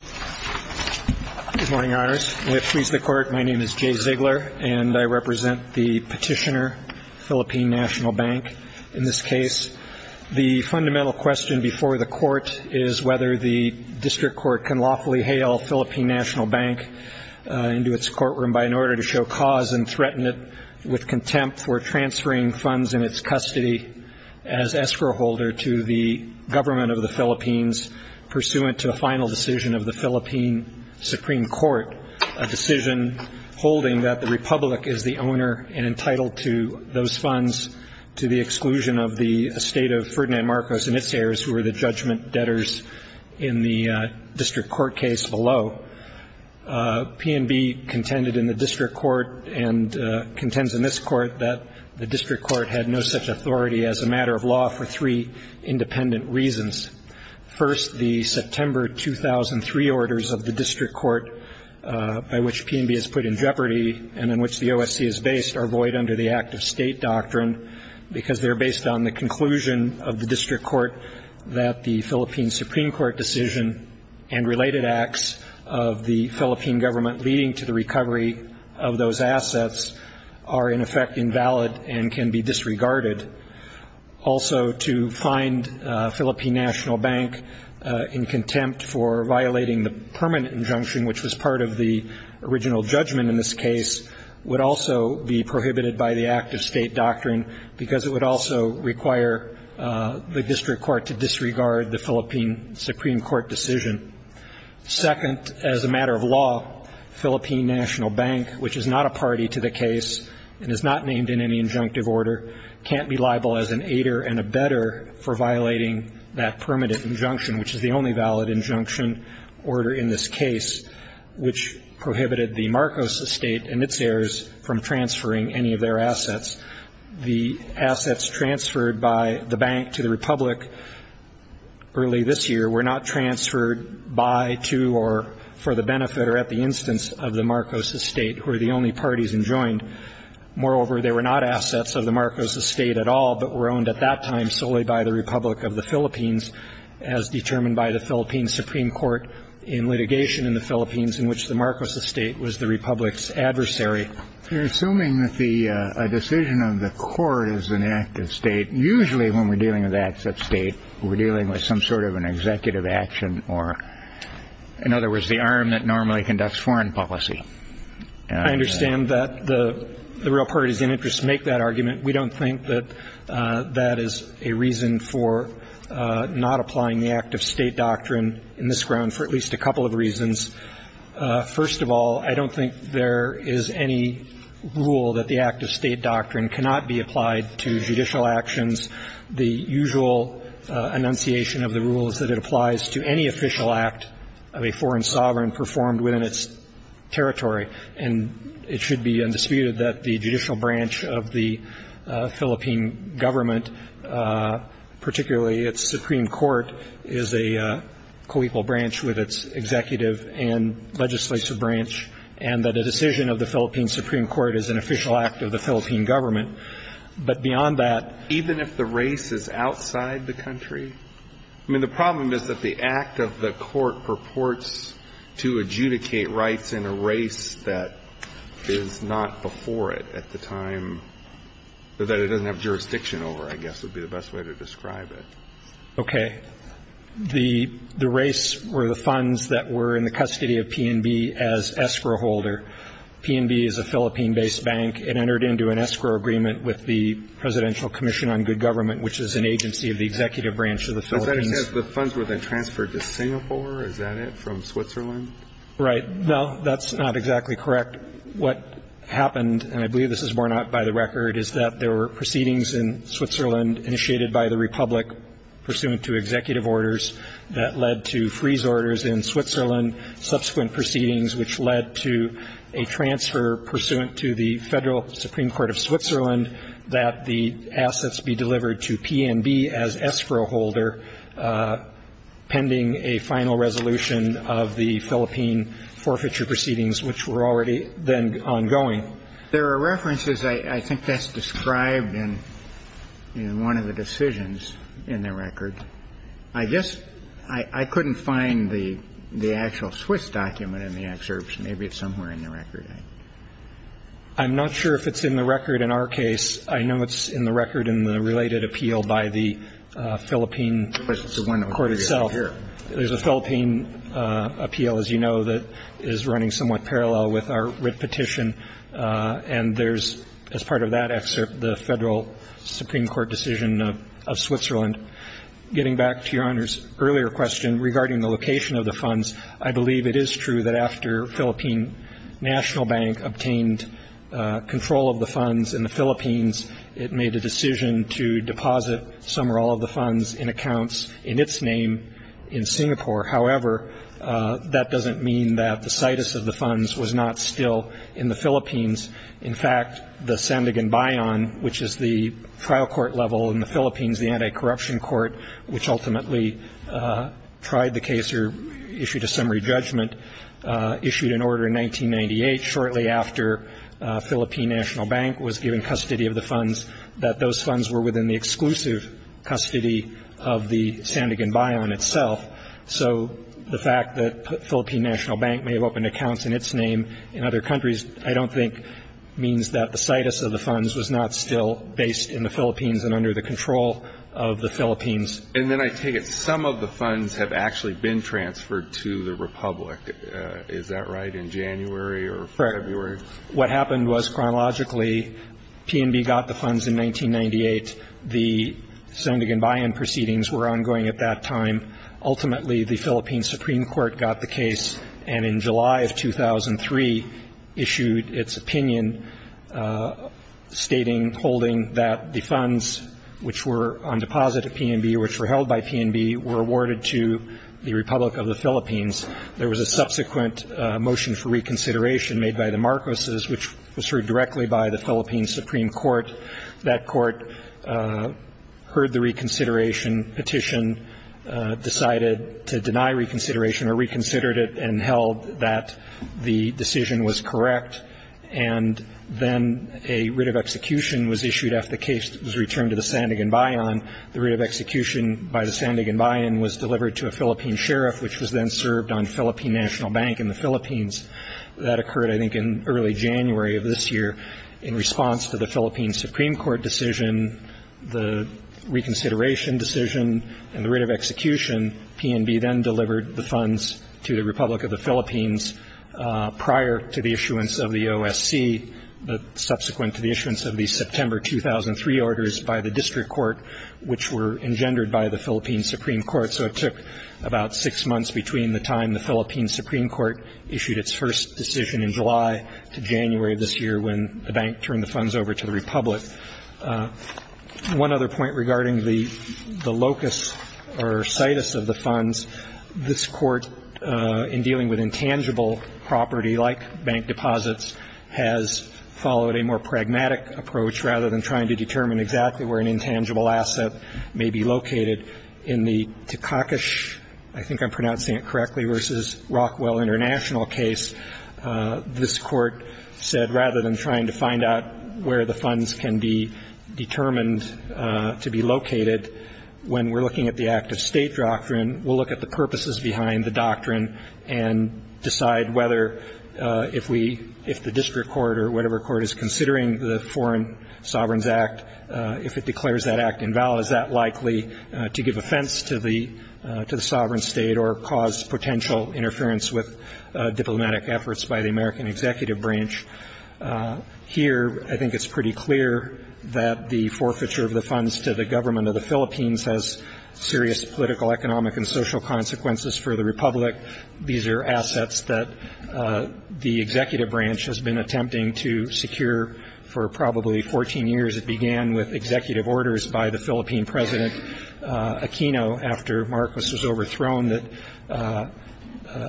Jay Ziegler, Petitioner, Philippine Nat'l Bank Philippine Supreme Court, a decision holding that the Republic is the owner and entitled to those funds to the exclusion of the estate of Ferdinand Marcos and its heirs who were the judgment debtors in the district court case below. PNB contended in the district court and contends in this court that the district court had no such authority as a matter of law for three independent reasons. First, the September 2003 orders of the district court by which PNB is put in jeopardy and in which the OSC is based are void under the Act of State Doctrine because they are based on the conclusion of the district court that the Philippine Supreme Court decision and related acts of the Philippine government leading to the recovery of those assets are in effect invalid and can be disregarded. Also, to find PNB in contempt for violating the permanent injunction which was part of the original judgment in this case would also be prohibited by the Act of State Doctrine because it would also require the district court to disregard the Philippine Supreme Court decision. Second, as a matter of law, Philippine National Bank, which is not a party to the case and is not named in any injunctive order, can't be liable as an aider and a better for violating that permanent injunction which is the only valid injunction order in this case which prohibited the Marcos estate and its heirs from transferring any of their assets. The assets transferred by the bank to the Republic early this year were not transferred by, to, or for the benefit or at the instance of the Marcos estate, who are the only parties enjoined. Moreover, they were not assets of the Marcos estate at all but were owned at that time solely by the Republic of the Philippines as determined by the Philippine Supreme Court in litigation in the Philippines in which the Marcos estate was the Republic's adversary. You're assuming that a decision of the court is an act of state. Usually when we're dealing with acts of state, we're dealing with some sort of an executive action or, in other words, the arm that normally conducts foreign policy. I understand that the real parties in interest make that argument. We don't think that that is a reason for not applying the Act of State Doctrine in this ground for at least a couple of reasons. First of all, I don't think there is any rule that the Act of State Doctrine cannot be applied to judicial actions. The usual enunciation of the rule is that it applies to any official act of a foreign sovereign performed within its territory. And it should be undisputed that the judicial branch of the Philippine government, particularly its supreme court, is a co-equal branch with its executive and legislative branch, and that a decision of the Philippine supreme court is an official act of the Philippine government. But beyond that, even if the race is outside the country, I mean, the problem is that the act of the court purports to adjudicate rights in a race that is not before it at the time, that it doesn't have jurisdiction over, I guess would be the best way to describe it. Okay. The race were the funds that were in the custody of PNB as escrow holder. PNB is a Philippine-based bank. It entered into an escrow agreement with the Presidential Commission on Good Government, which is an agency of the executive branch of the Philippines. The funds were then transferred to Singapore. Is that it? From Switzerland? Right. No, that's not exactly correct. What happened, and I believe this is borne out by the record, is that there were proceedings in Switzerland initiated by the republic, pursuant to executive orders that led to freeze orders in Switzerland, subsequent proceedings which led to a transfer pursuant to the federal supreme court of Switzerland that the assets be delivered to PNB as escrow holder pending a final resolution of the Philippine forfeiture proceedings, which were already then ongoing. There are references. I think that's described in one of the decisions in the record. I guess I couldn't find the actual Swiss document in the excerpts. Maybe it's somewhere in the record. I'm not sure if it's in the record in our case. I know it's in the record in the related appeal by the Philippine court itself. There's a Philippine appeal, as you know, that is running somewhat parallel with our writ petition, and there's, as part of that excerpt, the federal supreme court decision of Switzerland. Getting back to Your Honor's earlier question regarding the location of the funds, I believe it is true that after Philippine National Bank obtained control of the funds in the Philippines, it made a decision to deposit some or all of the funds in accounts in its name in Singapore. However, that doesn't mean that the situs of the funds was not still in the Philippines. In fact, the Sandigan Bayon, which is the trial court level in the Philippines, the anti-corruption court which ultimately tried the case or issued a summary judgment, issued an order in 1998, shortly after Philippine National Bank was given custody of the funds, that those funds were within the exclusive custody of the Sandigan Bayon itself. So the fact that Philippine National Bank may have opened accounts in its name in other countries, I don't think means that the situs of the funds was not still based in the Philippines and under the control of the Philippines. And then I take it some of the funds have actually been transferred to the Republic. Is that right, in January or February? Correct. What happened was, chronologically, PNB got the funds in 1998. The Sandigan Bayon proceedings were ongoing at that time. Ultimately, the Philippine supreme court got the case and in July of 2003 issued its opinion, stating, holding that the funds which were on deposit at PNB, which were held by PNB, were awarded to the Republic of the Philippines. There was a subsequent motion for reconsideration made by the Marcoses, which was heard directly by the Philippines supreme court. That court heard the reconsideration petition, decided to deny reconsideration or reconsidered it and held that the decision was correct. And then a writ of execution was issued after the case was returned to the Sandigan Bayon. The writ of execution by the Sandigan Bayon was delivered to a Philippine sheriff, which was then served on Philippine National Bank in the Philippines. That occurred, I think, in early January of this year. In response to the Philippine supreme court decision, the reconsideration decision and the writ of execution, PNB then delivered the funds to the Republic of the Philippines prior to the issuance of the OSC, but subsequent to the issuance of the September 2003 orders by the district court, which were engendered by the Philippine supreme court. So it took about six months between the time the Philippine supreme court issued its first decision in July to January of this year when the bank turned the funds over to the Republic. One other point regarding the locus or situs of the funds, this Court, in dealing with intangible property like bank deposits, has followed a more pragmatic approach rather than trying to determine exactly where an intangible asset may be located. In the Takakish, I think I'm pronouncing it correctly, versus Rockwell International case, this Court said rather than trying to find out where the funds can be determined to be located, when we're looking at the act-of-state doctrine, we'll look at the purposes behind the doctrine and decide whether if we, if the district court or whatever court is considering the Foreign Sovereigns Act, if it declares that act invalid, is that likely to give offense to the sovereign state or cause potential interference with diplomatic efforts by the American executive branch. Here, I think it's pretty clear that the forfeiture of the funds to the government of the Philippines has serious political, economic, and social consequences for the Republic. These are assets that the executive branch has been attempting to secure for probably 14 years. It began with executive orders by the Philippine President Aquino after Marcos was overthrown that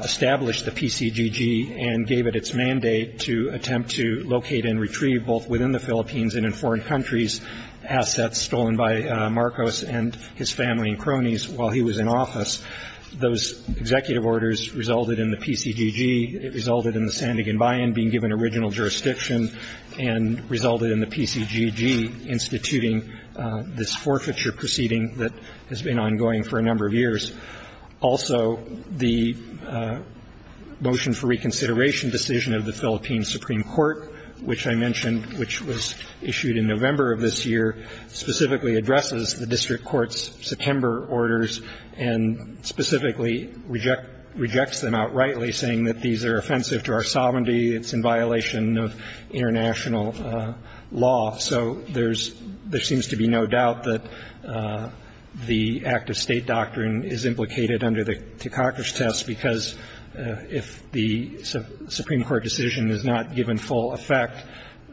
established the PCGG and gave it its mandate to attempt to locate and retrieve both within the Philippines and in foreign countries assets stolen by Marcos and his family and cronies while he was in office. Those executive orders resulted in the PCGG. It resulted in the Sandigan Bayan being given original jurisdiction and resulted in the PCGG instituting this forfeiture proceeding that has been ongoing for a number of years. Also, the motion for reconsideration decision of the Philippine Supreme Court, which I mentioned, which was issued in November of this year, specifically addresses the district court's September orders and specifically rejects them outrightly saying that these are offensive to our sovereignty, it's in violation of international law. So there's – there seems to be no doubt that the act of State doctrine is implicated under the ticoctus test because if the Supreme Court decision is not given full effect,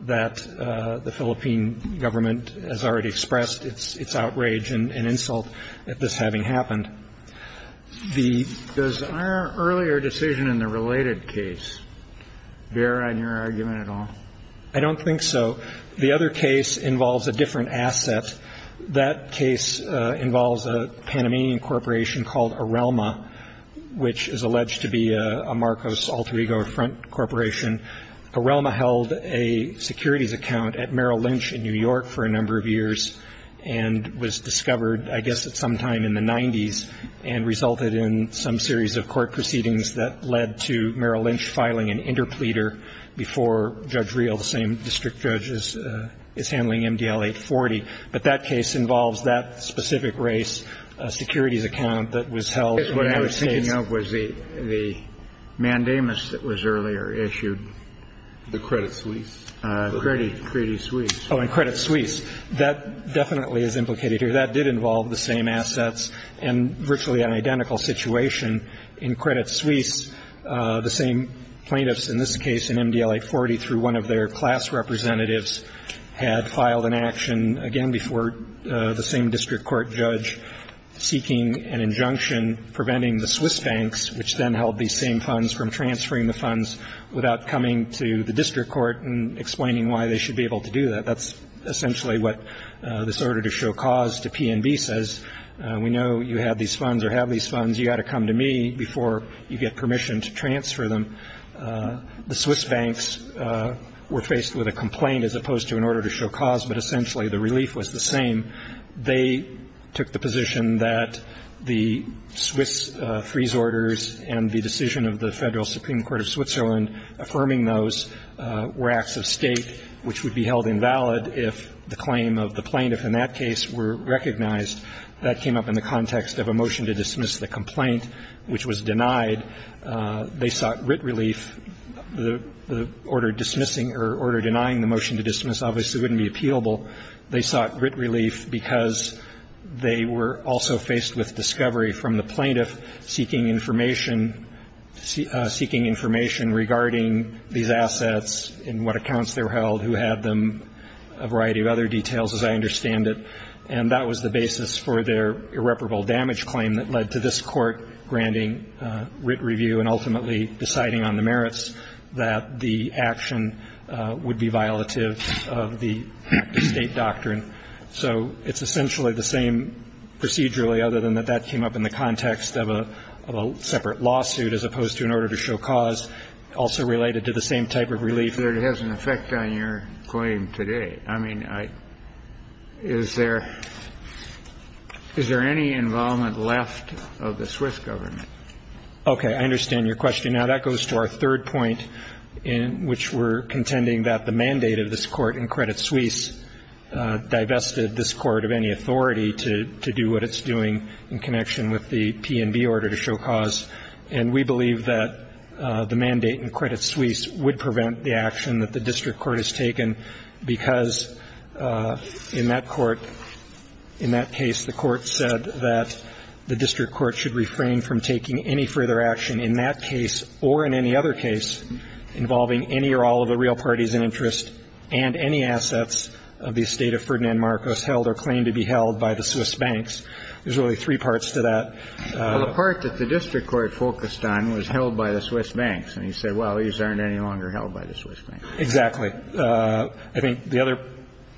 that the Philippine government has already expressed its outrage and insult at this having happened. The – Does our earlier decision in the related case bear on your argument at all? I don't think so. The other case involves a different asset. That case involves a Panamanian corporation called Arelma, which is alleged to be a Marcos Alter Ego front corporation. Arelma held a securities account at Merrill Lynch in New York for a number of years and was discovered, I guess, at some time in the 90s and resulted in some series of court proceedings that led to Merrill Lynch filing an interpleader before Judge Reel, the same district judge, is handling MDL 840. But that case involves that specific race, a securities account that was held. I guess what I was thinking of was the mandamus that was earlier issued. The Credit Suisse. Credit Suisse. Oh, and Credit Suisse. That definitely is implicated here. That did involve the same assets and virtually an identical situation in Credit Suisse. The same plaintiffs in this case in MDL 840 through one of their class representatives had filed an action, again, before the same district court judge, seeking an injunction preventing the Swiss banks, which then held these same funds from transferring the funds, without coming to the district court and explaining why they should be able to do that. That's essentially what this order to show cause to P&B says. We know you have these funds or have these funds. You've got to come to me before you get permission to transfer them. The Swiss banks were faced with a complaint as opposed to an order to show cause, but essentially the relief was the same. They took the position that the Swiss freeze orders and the decision of the Federal Supreme Court of Switzerland affirming those were acts of state, which would be held invalid if the claim of the plaintiff in that case were recognized. That came up in the context of a motion to dismiss the complaint, which was denied. They sought writ relief. The order denying the motion to dismiss obviously wouldn't be appealable. They sought writ relief because they were also faced with discovery from the plaintiff seeking information, seeking information regarding these assets and what accounts they were held, who had them, a variety of other details, as I understand it. And that was the basis for their irreparable damage claim that led to this Court granting writ review and ultimately deciding on the merits that the action would be violative of the state doctrine. So it's essentially the same procedurally, other than that that came up in the context of a separate lawsuit as opposed to an order to show cause, also related to the same type of relief. I don't believe that it has an effect on your claim today. I mean, is there any involvement left of the Swiss government? Okay. I understand your question. Now, that goes to our third point, which we're contending that the mandate of this court in Credit Suisse divested this court of any authority to do what it's doing in connection with the P&B order to show cause. And we believe that the mandate in Credit Suisse would prevent the action that the district court has taken because in that court, in that case, the court said that the district court should refrain from taking any further action in that case or in any other case involving any or all of the real parties in interest and any assets of the estate of Ferdinand Marcos held or claimed to be held by the Swiss banks. There's really three parts to that. Well, the part that the district court focused on was held by the Swiss banks. And he said, well, these aren't any longer held by the Swiss banks. Exactly. I think the other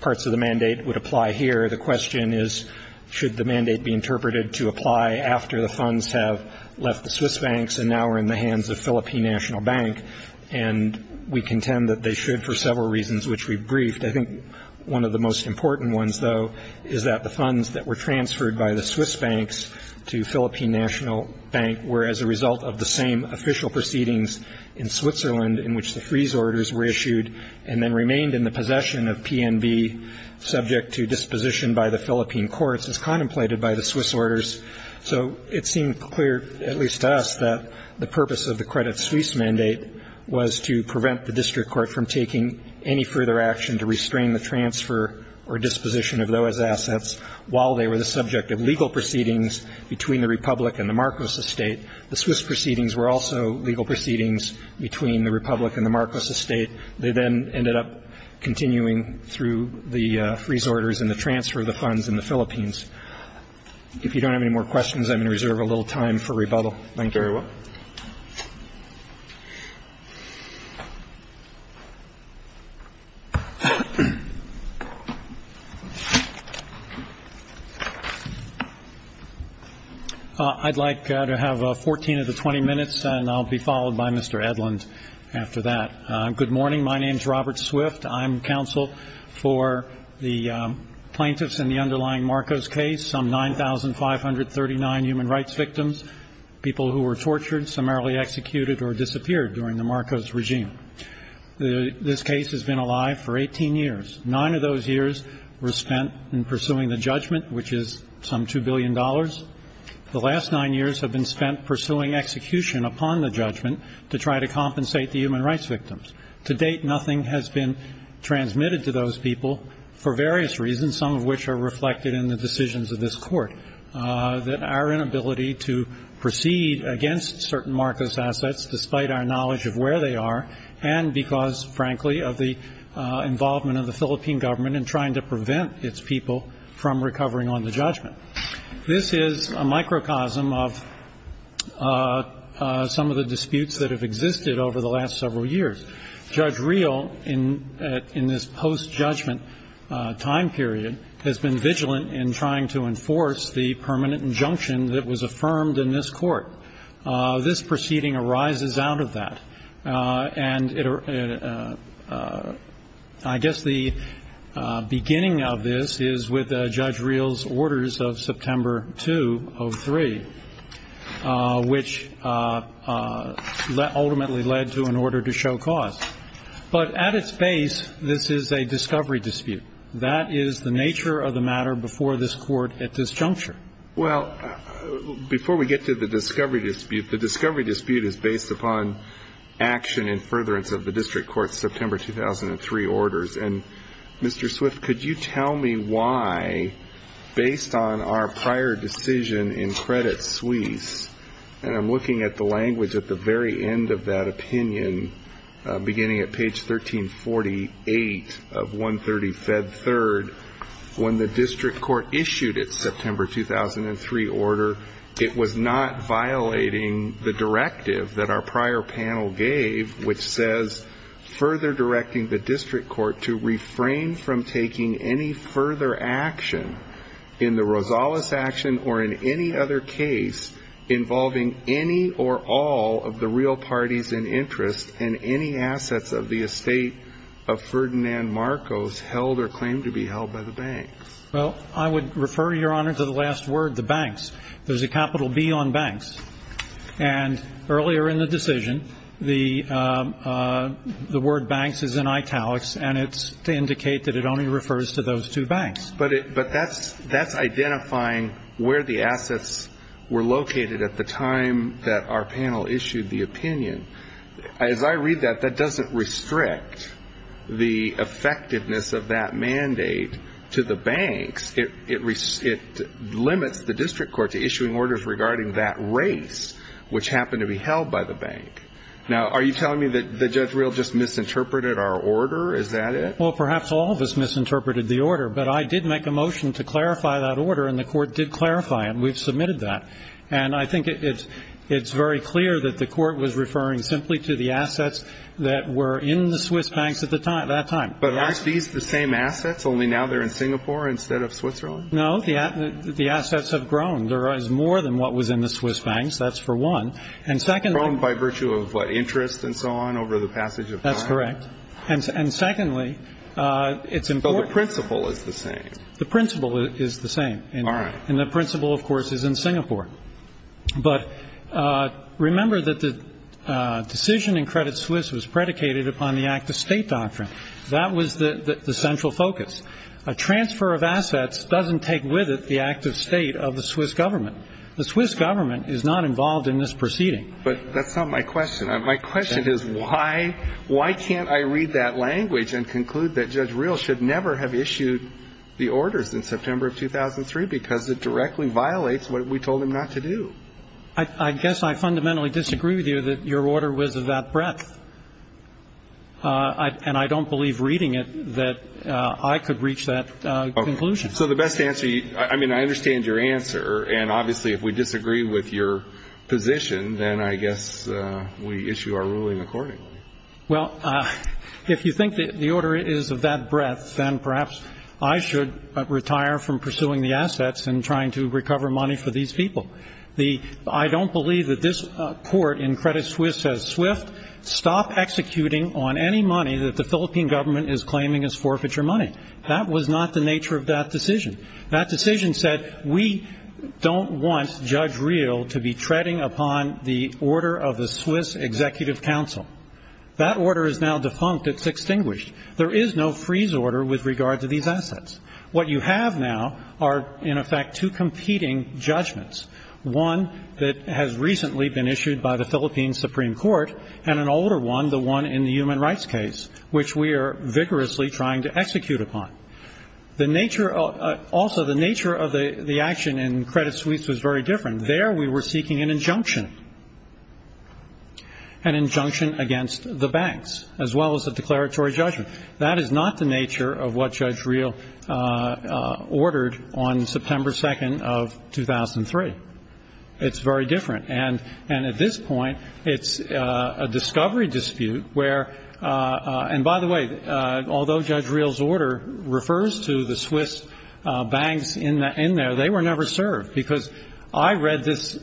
parts of the mandate would apply here. The question is, should the mandate be interpreted to apply after the funds have left the Swiss banks and now are in the hands of Philippine National Bank? And we contend that they should for several reasons, which we've briefed. I think one of the most important ones, though, is that the funds that were transferred by the Swiss banks to Philippine National Bank were as a result of the same official proceedings in Switzerland in which the freeze orders were issued and then remained in the possession of PNB subject to disposition by the Philippine courts as contemplated by the Swiss orders. So it seemed clear, at least to us, that the purpose of the Credit Suisse mandate was to prevent the district court from taking any further action to restrain the transfer or disposition of those assets while they were the subject of legal proceedings between the Republic and the Marcos estate. The Swiss proceedings were also legal proceedings between the Republic and the Marcos estate. They then ended up continuing through the freeze orders and the transfer of the funds in the Philippines. If you don't have any more questions, I'm going to reserve a little time for rebuttal. Thank you. Thank you very much. I'd like to have 14 of the 20 minutes, and I'll be followed by Mr. Edlund after that. Good morning. My name is Robert Swift. I'm counsel for the plaintiffs in the underlying Marcos case, some 9,539 human rights victims, people who were tortured, summarily executed, or disappeared during the Marcos regime. This case has been alive for 18 years. Nine of those years were spent in pursuing the judgment, which is some $2 billion. The last nine years have been spent pursuing execution upon the judgment to try to compensate the human rights victims. To date, nothing has been transmitted to those people for various reasons, some of which are reflected in the decisions of this court. That our inability to proceed against certain Marcos assets, despite our knowledge of where they are, and because, frankly, of the involvement of the Philippine government in trying to prevent its people from recovering on the judgment. This is a microcosm of some of the disputes that have existed over the last several years. Judge Reel, in this post-judgment time period, has been vigilant in trying to enforce the permanent injunction that was affirmed in this court. This proceeding arises out of that. And I guess the beginning of this is with Judge Reel's orders of September 2 of 3, which ultimately led to an order to show cause. But at its base, this is a discovery dispute. That is the nature of the matter before this court at this juncture. Well, before we get to the discovery dispute, the discovery dispute is based upon action in furtherance of the district court's September 2003 orders. And, Mr. Swift, could you tell me why, based on our prior decision in Credit Suisse and I'm looking at the language at the very end of that opinion, beginning at page 1348 of 130 Fed 3rd, when the district court issued its September 2003 order, it was not violating the directive that our prior panel gave, which says, further directing the district court to refrain from taking any further action in the Rosales action or in any other case involving any or all of the real parties in interest in any assets of the estate of Ferdinand Marcos held or claimed to be held by the banks? Well, I would refer, Your Honor, to the last word, the banks. There's a capital B on banks. And earlier in the decision, the word banks is in italics, and it's to indicate that it only refers to those two banks. But that's identifying where the assets were located at the time that our panel issued the opinion. As I read that, that doesn't restrict the effectiveness of that mandate to the banks. It limits the district court to issuing orders regarding that race, which happened to be held by the bank. Now, are you telling me that the judge real just misinterpreted our order? Is that it? Well, perhaps all of us misinterpreted the order. But I did make a motion to clarify that order, and the court did clarify it. We've submitted that. And I think it's very clear that the court was referring simply to the assets that were in the Swiss banks at that time. But aren't these the same assets, only now they're in Singapore instead of Switzerland? No. The assets have grown. There is more than what was in the Swiss banks. That's for one. And second by virtue of interest and so on over the passage of time. That's correct. And secondly, it's important. So the principle is the same. The principle is the same. All right. And the principle, of course, is in Singapore. But remember that the decision in Credit Suisse was predicated upon the act-of-state doctrine. That was the central focus. A transfer of assets doesn't take with it the act-of-state of the Swiss government. The Swiss government is not involved in this proceeding. But that's not my question. My question is why can't I read that language and conclude that Judge Reel should never have issued the orders in September of 2003 because it directly violates what we told him not to do? I guess I fundamentally disagree with you that your order was of that breadth. And I don't believe reading it that I could reach that conclusion. So the best answer, I mean, I understand your answer. And obviously if we disagree with your position, then I guess we issue our ruling accordingly. Well, if you think the order is of that breadth, then perhaps I should retire from pursuing the assets and trying to recover money for these people. I don't believe that this court in Credit Suisse says, Swift, stop executing on any money that the Philippine government is claiming is forfeiture money. That was not the nature of that decision. That decision said we don't want Judge Reel to be treading upon the order of the Swiss Executive Council. That order is now defunct. It's extinguished. There is no freeze order with regard to these assets. What you have now are, in effect, two competing judgments, one that has recently been issued by the Philippine Supreme Court and an older one, the one in the human rights case, which we are vigorously trying to execute upon. Also, the nature of the action in Credit Suisse was very different. There we were seeking an injunction, an injunction against the banks, as well as a declaratory judgment. That is not the nature of what Judge Reel ordered on September 2nd of 2003. It's very different. And at this point, it's a discovery dispute where – And by the way, although Judge Reel's order refers to the Swiss banks in there, they were never served because I read this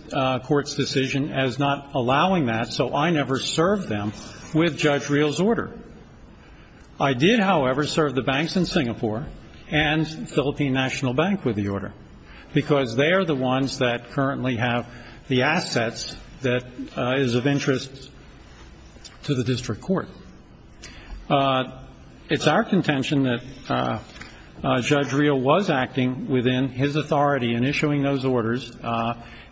Court's decision as not allowing that, so I never served them with Judge Reel's order. I did, however, serve the banks in Singapore and Philippine National Bank with the order because they are the ones that currently have the assets that is of interest to the district court. It's our contention that Judge Reel was acting within his authority in issuing those orders,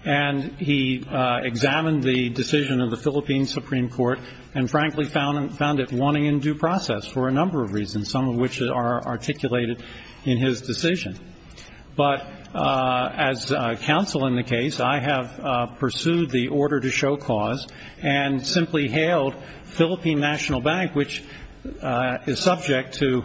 and he examined the decision of the Philippine Supreme Court and frankly found it wanting in due process for a number of reasons, some of which are articulated in his decision. But as counsel in the case, I have pursued the order to show clause and simply hailed Philippine National Bank, which is subject to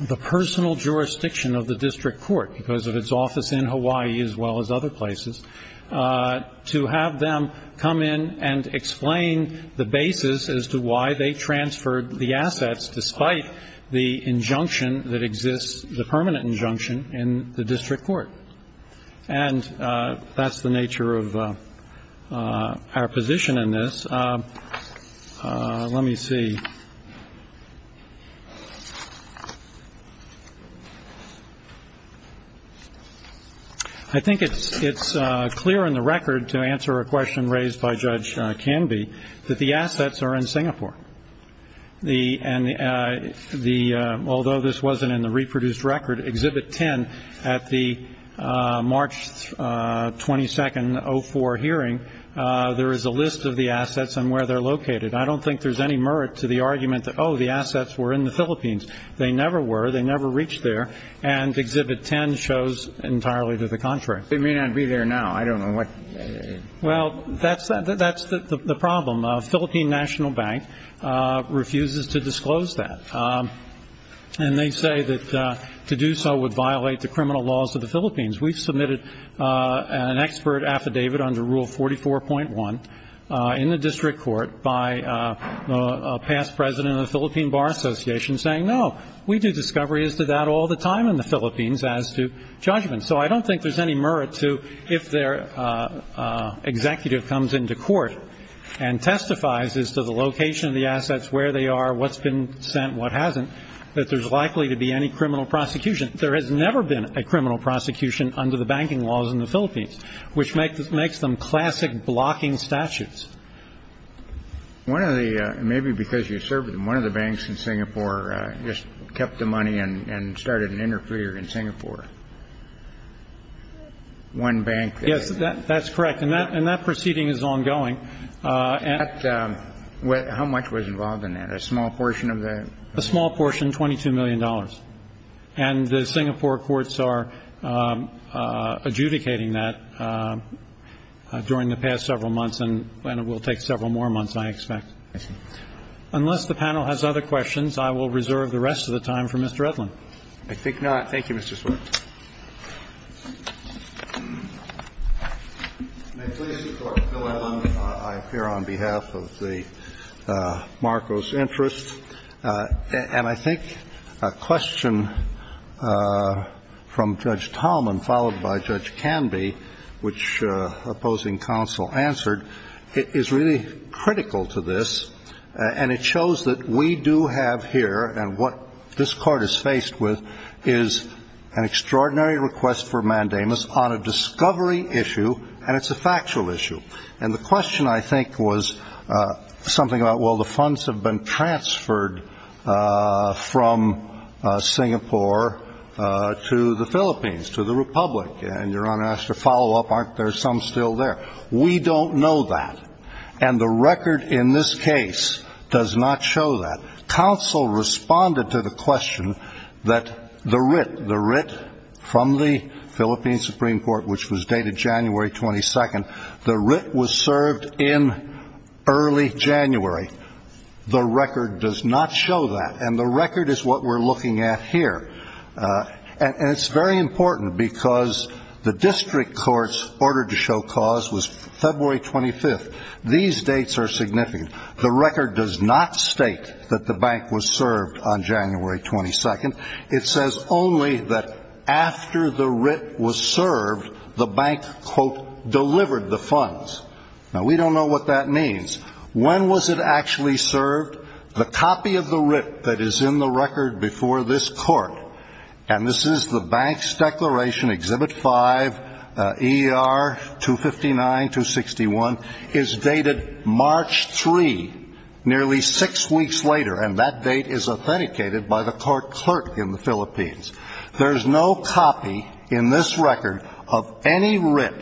the personal jurisdiction of the district court because of its office in Hawaii as well as other places, to have them come in and explain the basis as to why they transferred the assets, despite the injunction that exists, the permanent injunction in the district court. And that's the nature of our position in this. Let me see. I think it's clear in the record to answer a question raised by Judge Canby that the assets are in Singapore and although this wasn't in the reproduced record, Exhibit 10 at the March 22nd, 2004 hearing, there is a list of the assets and where they're located. I don't think there's any merit to the argument that, oh, the assets were in the Philippines. They never were. They never reached there. And Exhibit 10 shows entirely to the contrary. They may not be there now. I don't know what. Well, that's the problem. Philippine National Bank refuses to disclose that. And they say that to do so would violate the criminal laws of the Philippines. We've submitted an expert affidavit under Rule 44.1 in the district court by a past president of the Philippine Bar Association saying, no, we do discoveries to that all the time in the Philippines as to judgment. So I don't think there's any merit to if their executive comes into court and testifies as to the location of the assets, where they are, what's been sent, what hasn't, that there's likely to be any criminal prosecution. There has never been a criminal prosecution under the banking laws in the Philippines, which makes them classic blocking statutes. One of the maybe because you served in one of the banks in Singapore just kept the money and started an interpreter in Singapore. One bank. Yes, that's correct. And that and that proceeding is ongoing. How much was involved in that? A small portion of that. A small portion, $22 million. And the Singapore courts are adjudicating that during the past several months and it will take several more months, I expect. Unless the panel has other questions, I will reserve the rest of the time for Mr. Edlin. I think not. Thank you, Mr. Swift. May it please the Court, Phil Edlin. I appear on behalf of the Marcos Interest. And I think a question from Judge Tallman followed by Judge Canby, which opposing counsel answered, is really critical to this, and it shows that we do have here, and what this Court is faced with is an extraordinary request for mandamus on a discovery issue, and it's a factual issue. And the question, I think, was something about, well, the funds have been transferred from Singapore to the Philippines, to the Republic. And Your Honor, as a follow-up, aren't there some still there? We don't know that. And the record in this case does not show that. Counsel responded to the question that the writ from the Philippine Supreme Court, which was dated January 22nd, the writ was served in early January. The record does not show that. And the record is what we're looking at here. And it's very important because the district courts ordered to show cause was February 25th. These dates are significant. The record does not state that the bank was served on January 22nd. It says only that after the writ was served, the bank, quote, delivered the funds. Now, we don't know what that means. When was it actually served? The copy of the writ that is in the record before this Court, and this is the bank's declaration, Exhibit 5, ER 259-261, is dated March 3, nearly six weeks later. And that date is authenticated by the court clerk in the Philippines. There's no copy in this record of any writ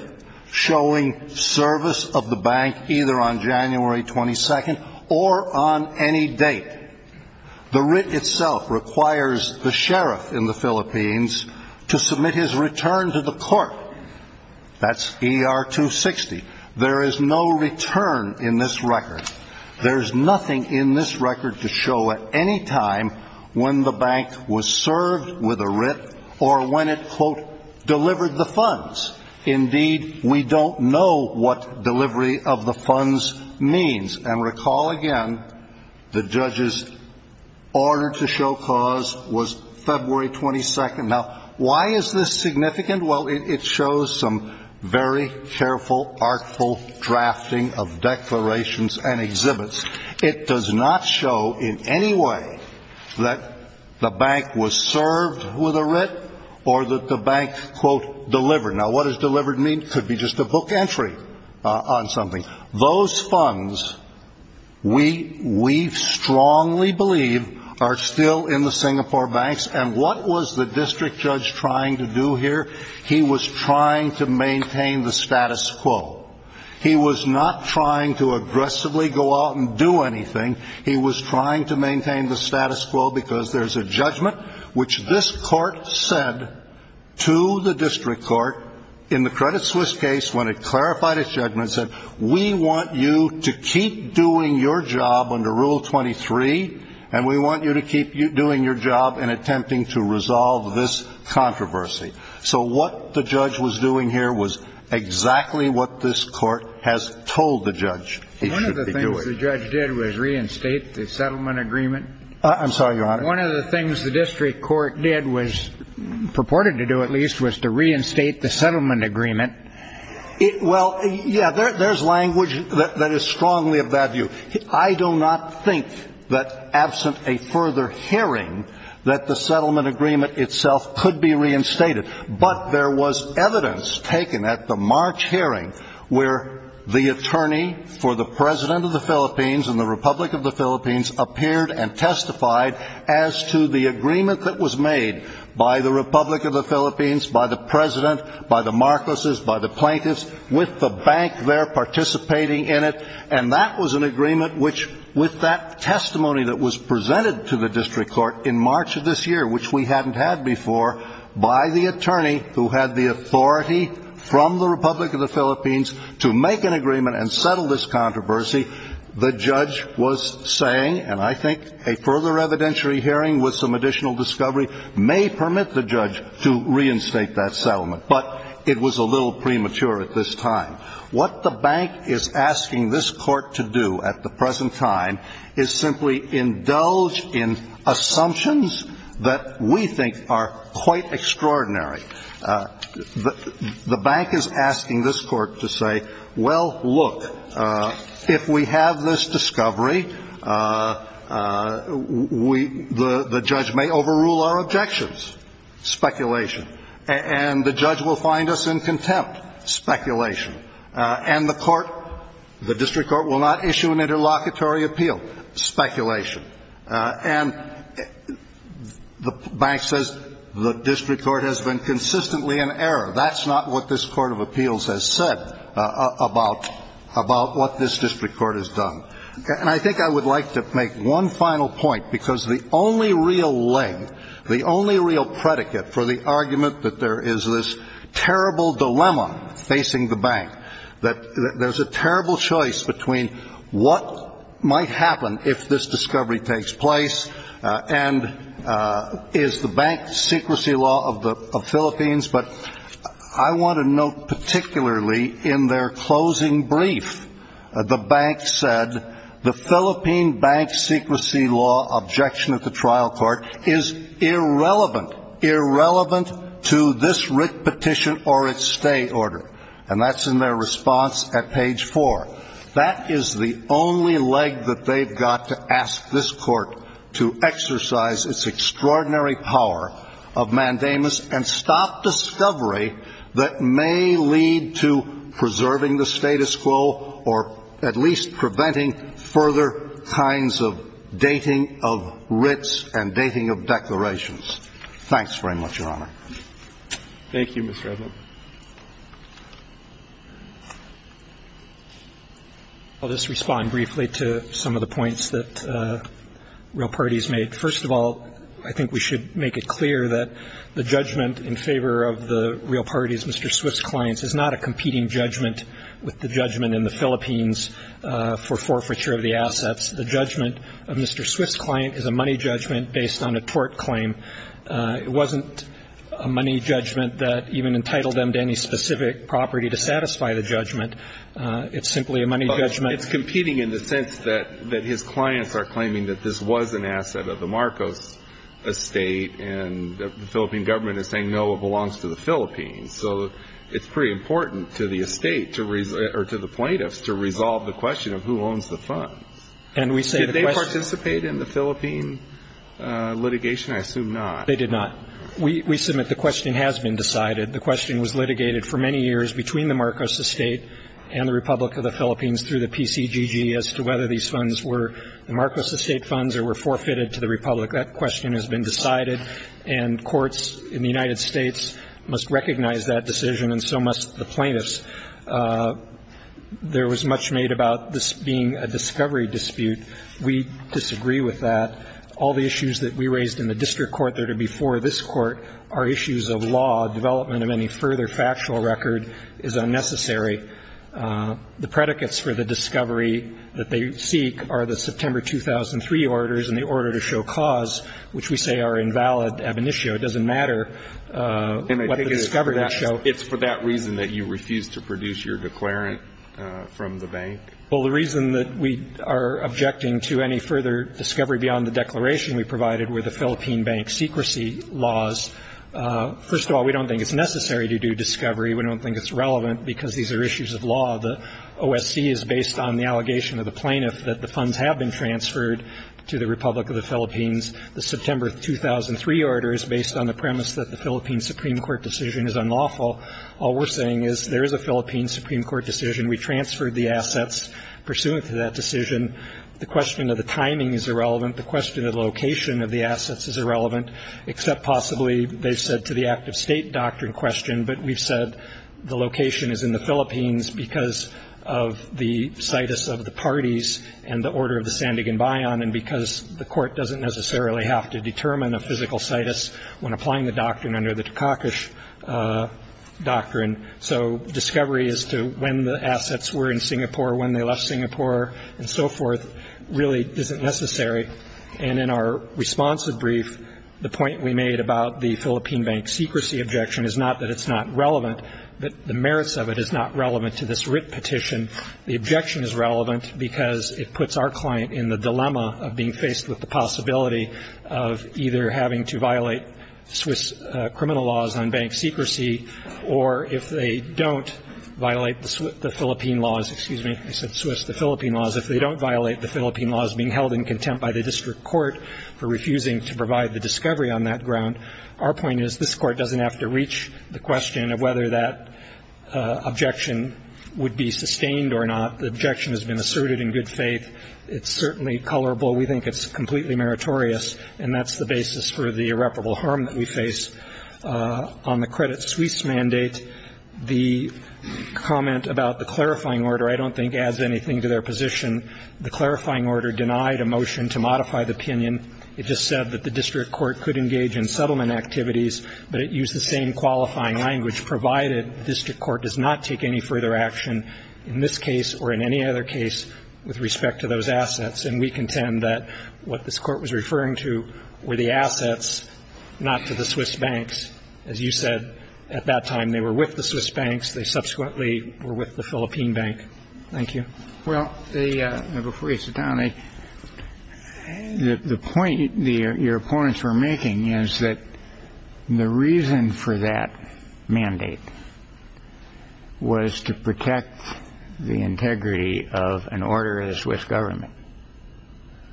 showing service of the bank either on January 22nd or on any date. The writ itself requires the sheriff in the Philippines to submit his return to the court. That's ER 260. There is no return in this record. There's nothing in this record to show at any time when the bank was served with a writ or when it, quote, delivered the funds. Indeed, we don't know what delivery of the funds means. And recall again the judge's order to show cause was February 22nd. Now, why is this significant? Well, it shows some very careful, artful drafting of declarations and exhibits. It does not show in any way that the bank was served with a writ or that the bank, quote, delivered. Now, what does delivered mean? It could be just a book entry on something. Those funds, we strongly believe, are still in the Singapore banks. And what was the district judge trying to do here? He was trying to maintain the status quo. He was not trying to aggressively go out and do anything. He was trying to maintain the status quo because there's a judgment which this court said to the district court in the Credit Suisse case when it clarified its judgment, said, we want you to keep doing your job under Rule 23, and we want you to keep doing your job in attempting to resolve this controversy. So what the judge was doing here was exactly what this court has told the judge he should be doing. One of the things the judge did was reinstate the settlement agreement. I'm sorry, Your Honor. One of the things the district court did was, purported to do at least, was to reinstate the settlement agreement. Well, yeah, there's language that is strongly of that view. I do not think that absent a further hearing that the settlement agreement itself could be reinstated. But there was evidence taken at the March hearing where the attorney for the president of the Philippines and the Republic of the Philippines appeared and testified as to the agreement that was made by the Republic of the Philippines, by the president, by the Marcoses, by the plaintiffs, with the bank there participating in it. And that was an agreement which, with that testimony that was presented to the district court in March of this year, which we hadn't had before, by the attorney who had the authority from the Republic of the Philippines to make an agreement and settle this controversy, the judge was saying, and I think a further evidentiary hearing with some additional discovery may permit the judge to reinstate that settlement. But it was a little premature at this time. What the bank is asking this court to do at the present time is simply indulge in assumptions that we think are quite extraordinary. The bank is asking this court to say, well, look, if we have this discovery, the judge may overrule our objections. Speculation. And the judge will find us in contempt. Speculation. And the court, the district court will not issue an interlocutory appeal. Speculation. And the bank says the district court has been consistently in error. That's not what this court of appeals has said about what this district court has done. And I think I would like to make one final point, because the only real leg, the only real predicate for the argument that there is this terrible dilemma facing the bank, that there's a terrible choice between what might happen if this discovery takes place and is the bank secrecy law of the Philippines. But I want to note particularly in their closing brief, the bank said the Philippine bank secrecy law objection at the trial court is irrelevant, irrelevant to this writ petition or its stay order. And that's in their response at page 4. That is the only leg that they've got to ask this court to exercise its extraordinary power of mandamus and stop discovery that may lead to preserving the status quo or at least preventing further kinds of dating of writs and dating of declarations. Thanks very much, Your Honor. Thank you, Mr. Edlund. I'll just respond briefly to some of the points that real parties made. First of all, I think we should make it clear that the judgment in favor of the real parties, Mr. Swift's clients, is not a competing judgment with the judgment in the Philippines for forfeiture of the assets. The judgment of Mr. Swift's client is a money judgment based on a tort claim. It wasn't a money judgment that even entitled them to any specific property to satisfy the judgment. It's simply a money judgment. It's competing in the sense that his clients are claiming that this was an asset of the Marcos estate, and the Philippine government is saying, no, it belongs to the Philippines. So it's pretty important to the estate or to the plaintiffs to resolve the question of who owns the funds. Did they participate in the Philippine litigation? I assume not. They did not. We submit the question has been decided. The question was litigated for many years between the Marcos estate and the Republic of the Philippines through the PCGG as to whether these funds were the Marcos estate funds or were forfeited to the Republic. That question has been decided, and courts in the United States must recognize that decision, and so must the plaintiffs. There was much made about this being a discovery dispute. We disagree with that. All the issues that we raised in the district court that are before this Court are issues of law. Development of any further factual record is unnecessary. The predicates for the discovery that they seek are the September 2003 orders and the order to show cause, which we say are invalid ab initio. It doesn't matter what the discovery would show. So it's for that reason that you refuse to produce your declarant from the bank? Well, the reason that we are objecting to any further discovery beyond the declaration we provided were the Philippine bank secrecy laws. First of all, we don't think it's necessary to do discovery. We don't think it's relevant because these are issues of law. The OSC is based on the allegation of the plaintiff that the funds have been transferred to the Republic of the Philippines. The September 2003 order is based on the premise that the Philippine Supreme Court decision is unlawful. All we're saying is there is a Philippine Supreme Court decision. We transferred the assets pursuant to that decision. The question of the timing is irrelevant. The question of the location of the assets is irrelevant, except possibly they've said to the active state doctrine question. But we've said the location is in the Philippines because of the situs of the parties and the order of the Sandigan Bayan, and because the court doesn't necessarily have to determine a physical situs when applying the doctrine under the Takakish doctrine. So discovery as to when the assets were in Singapore, when they left Singapore, and so forth really isn't necessary. And in our responsive brief, the point we made about the Philippine bank secrecy objection is not that it's not relevant, but the merits of it is not relevant to this writ petition. The objection is relevant because it puts our client in the dilemma of being faced with the possibility of either having to violate Swiss criminal laws on bank secrecy, or if they don't violate the Philippine laws, excuse me, I said Swiss, the Philippine laws, if they don't violate the Philippine laws being held in contempt by the district court for refusing to provide the discovery on that ground, our point is this court doesn't have to reach the question of whether that objection would be sustained or not. The objection has been asserted in good faith. It's certainly colorable. We think it's completely meritorious, and that's the basis for the irreparable harm that we face. On the credit Swiss mandate, the comment about the clarifying order I don't think adds anything to their position. The clarifying order denied a motion to modify the opinion. It just said that the district court could engage in settlement activities, but it used the same qualifying language, provided the district court does not take any further action in this case or in any other case with respect to those assets. And we contend that what this Court was referring to were the assets, not to the Swiss banks. As you said, at that time they were with the Swiss banks. They subsequently were with the Philippine bank. Thank you. Well, before you sit down, the point your opponents were making is that the reason for that mandate was to protect the integrity of an order of the Swiss government.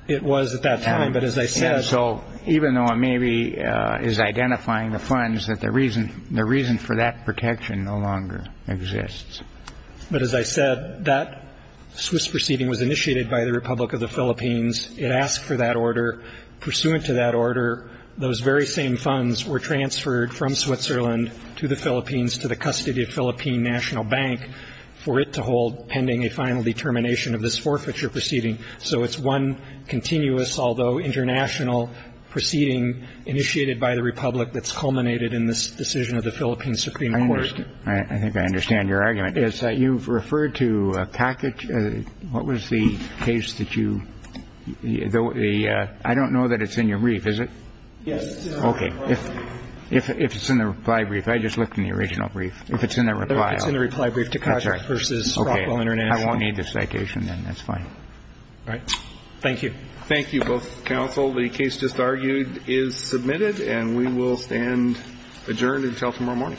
It was at that time, but as I said. So even though it maybe is identifying the funds, the reason for that protection no longer exists. But as I said, that Swiss proceeding was initiated by the Republic of the Philippines. It asked for that order. Pursuant to that order, those very same funds were transferred from Switzerland to the Philippines to the custody of Philippine National Bank for it to hold pending a final determination of this forfeiture proceeding. So it's one continuous, although international, proceeding initiated by the Republic of the Philippines. Thank you. I think I understand your argument. You've referred to a package. What was the case that you. I don't know that it's in your brief, is it? Yes. Okay. If it's in the reply brief, I just looked in the original brief. If it's in the reply. It's in the reply brief to contract versus. Okay. I won't need this citation then. That's fine. All right. Thank you. Thank you both. Counsel. The case just argued is submitted and we will stand adjourned until tomorrow morning. Okay.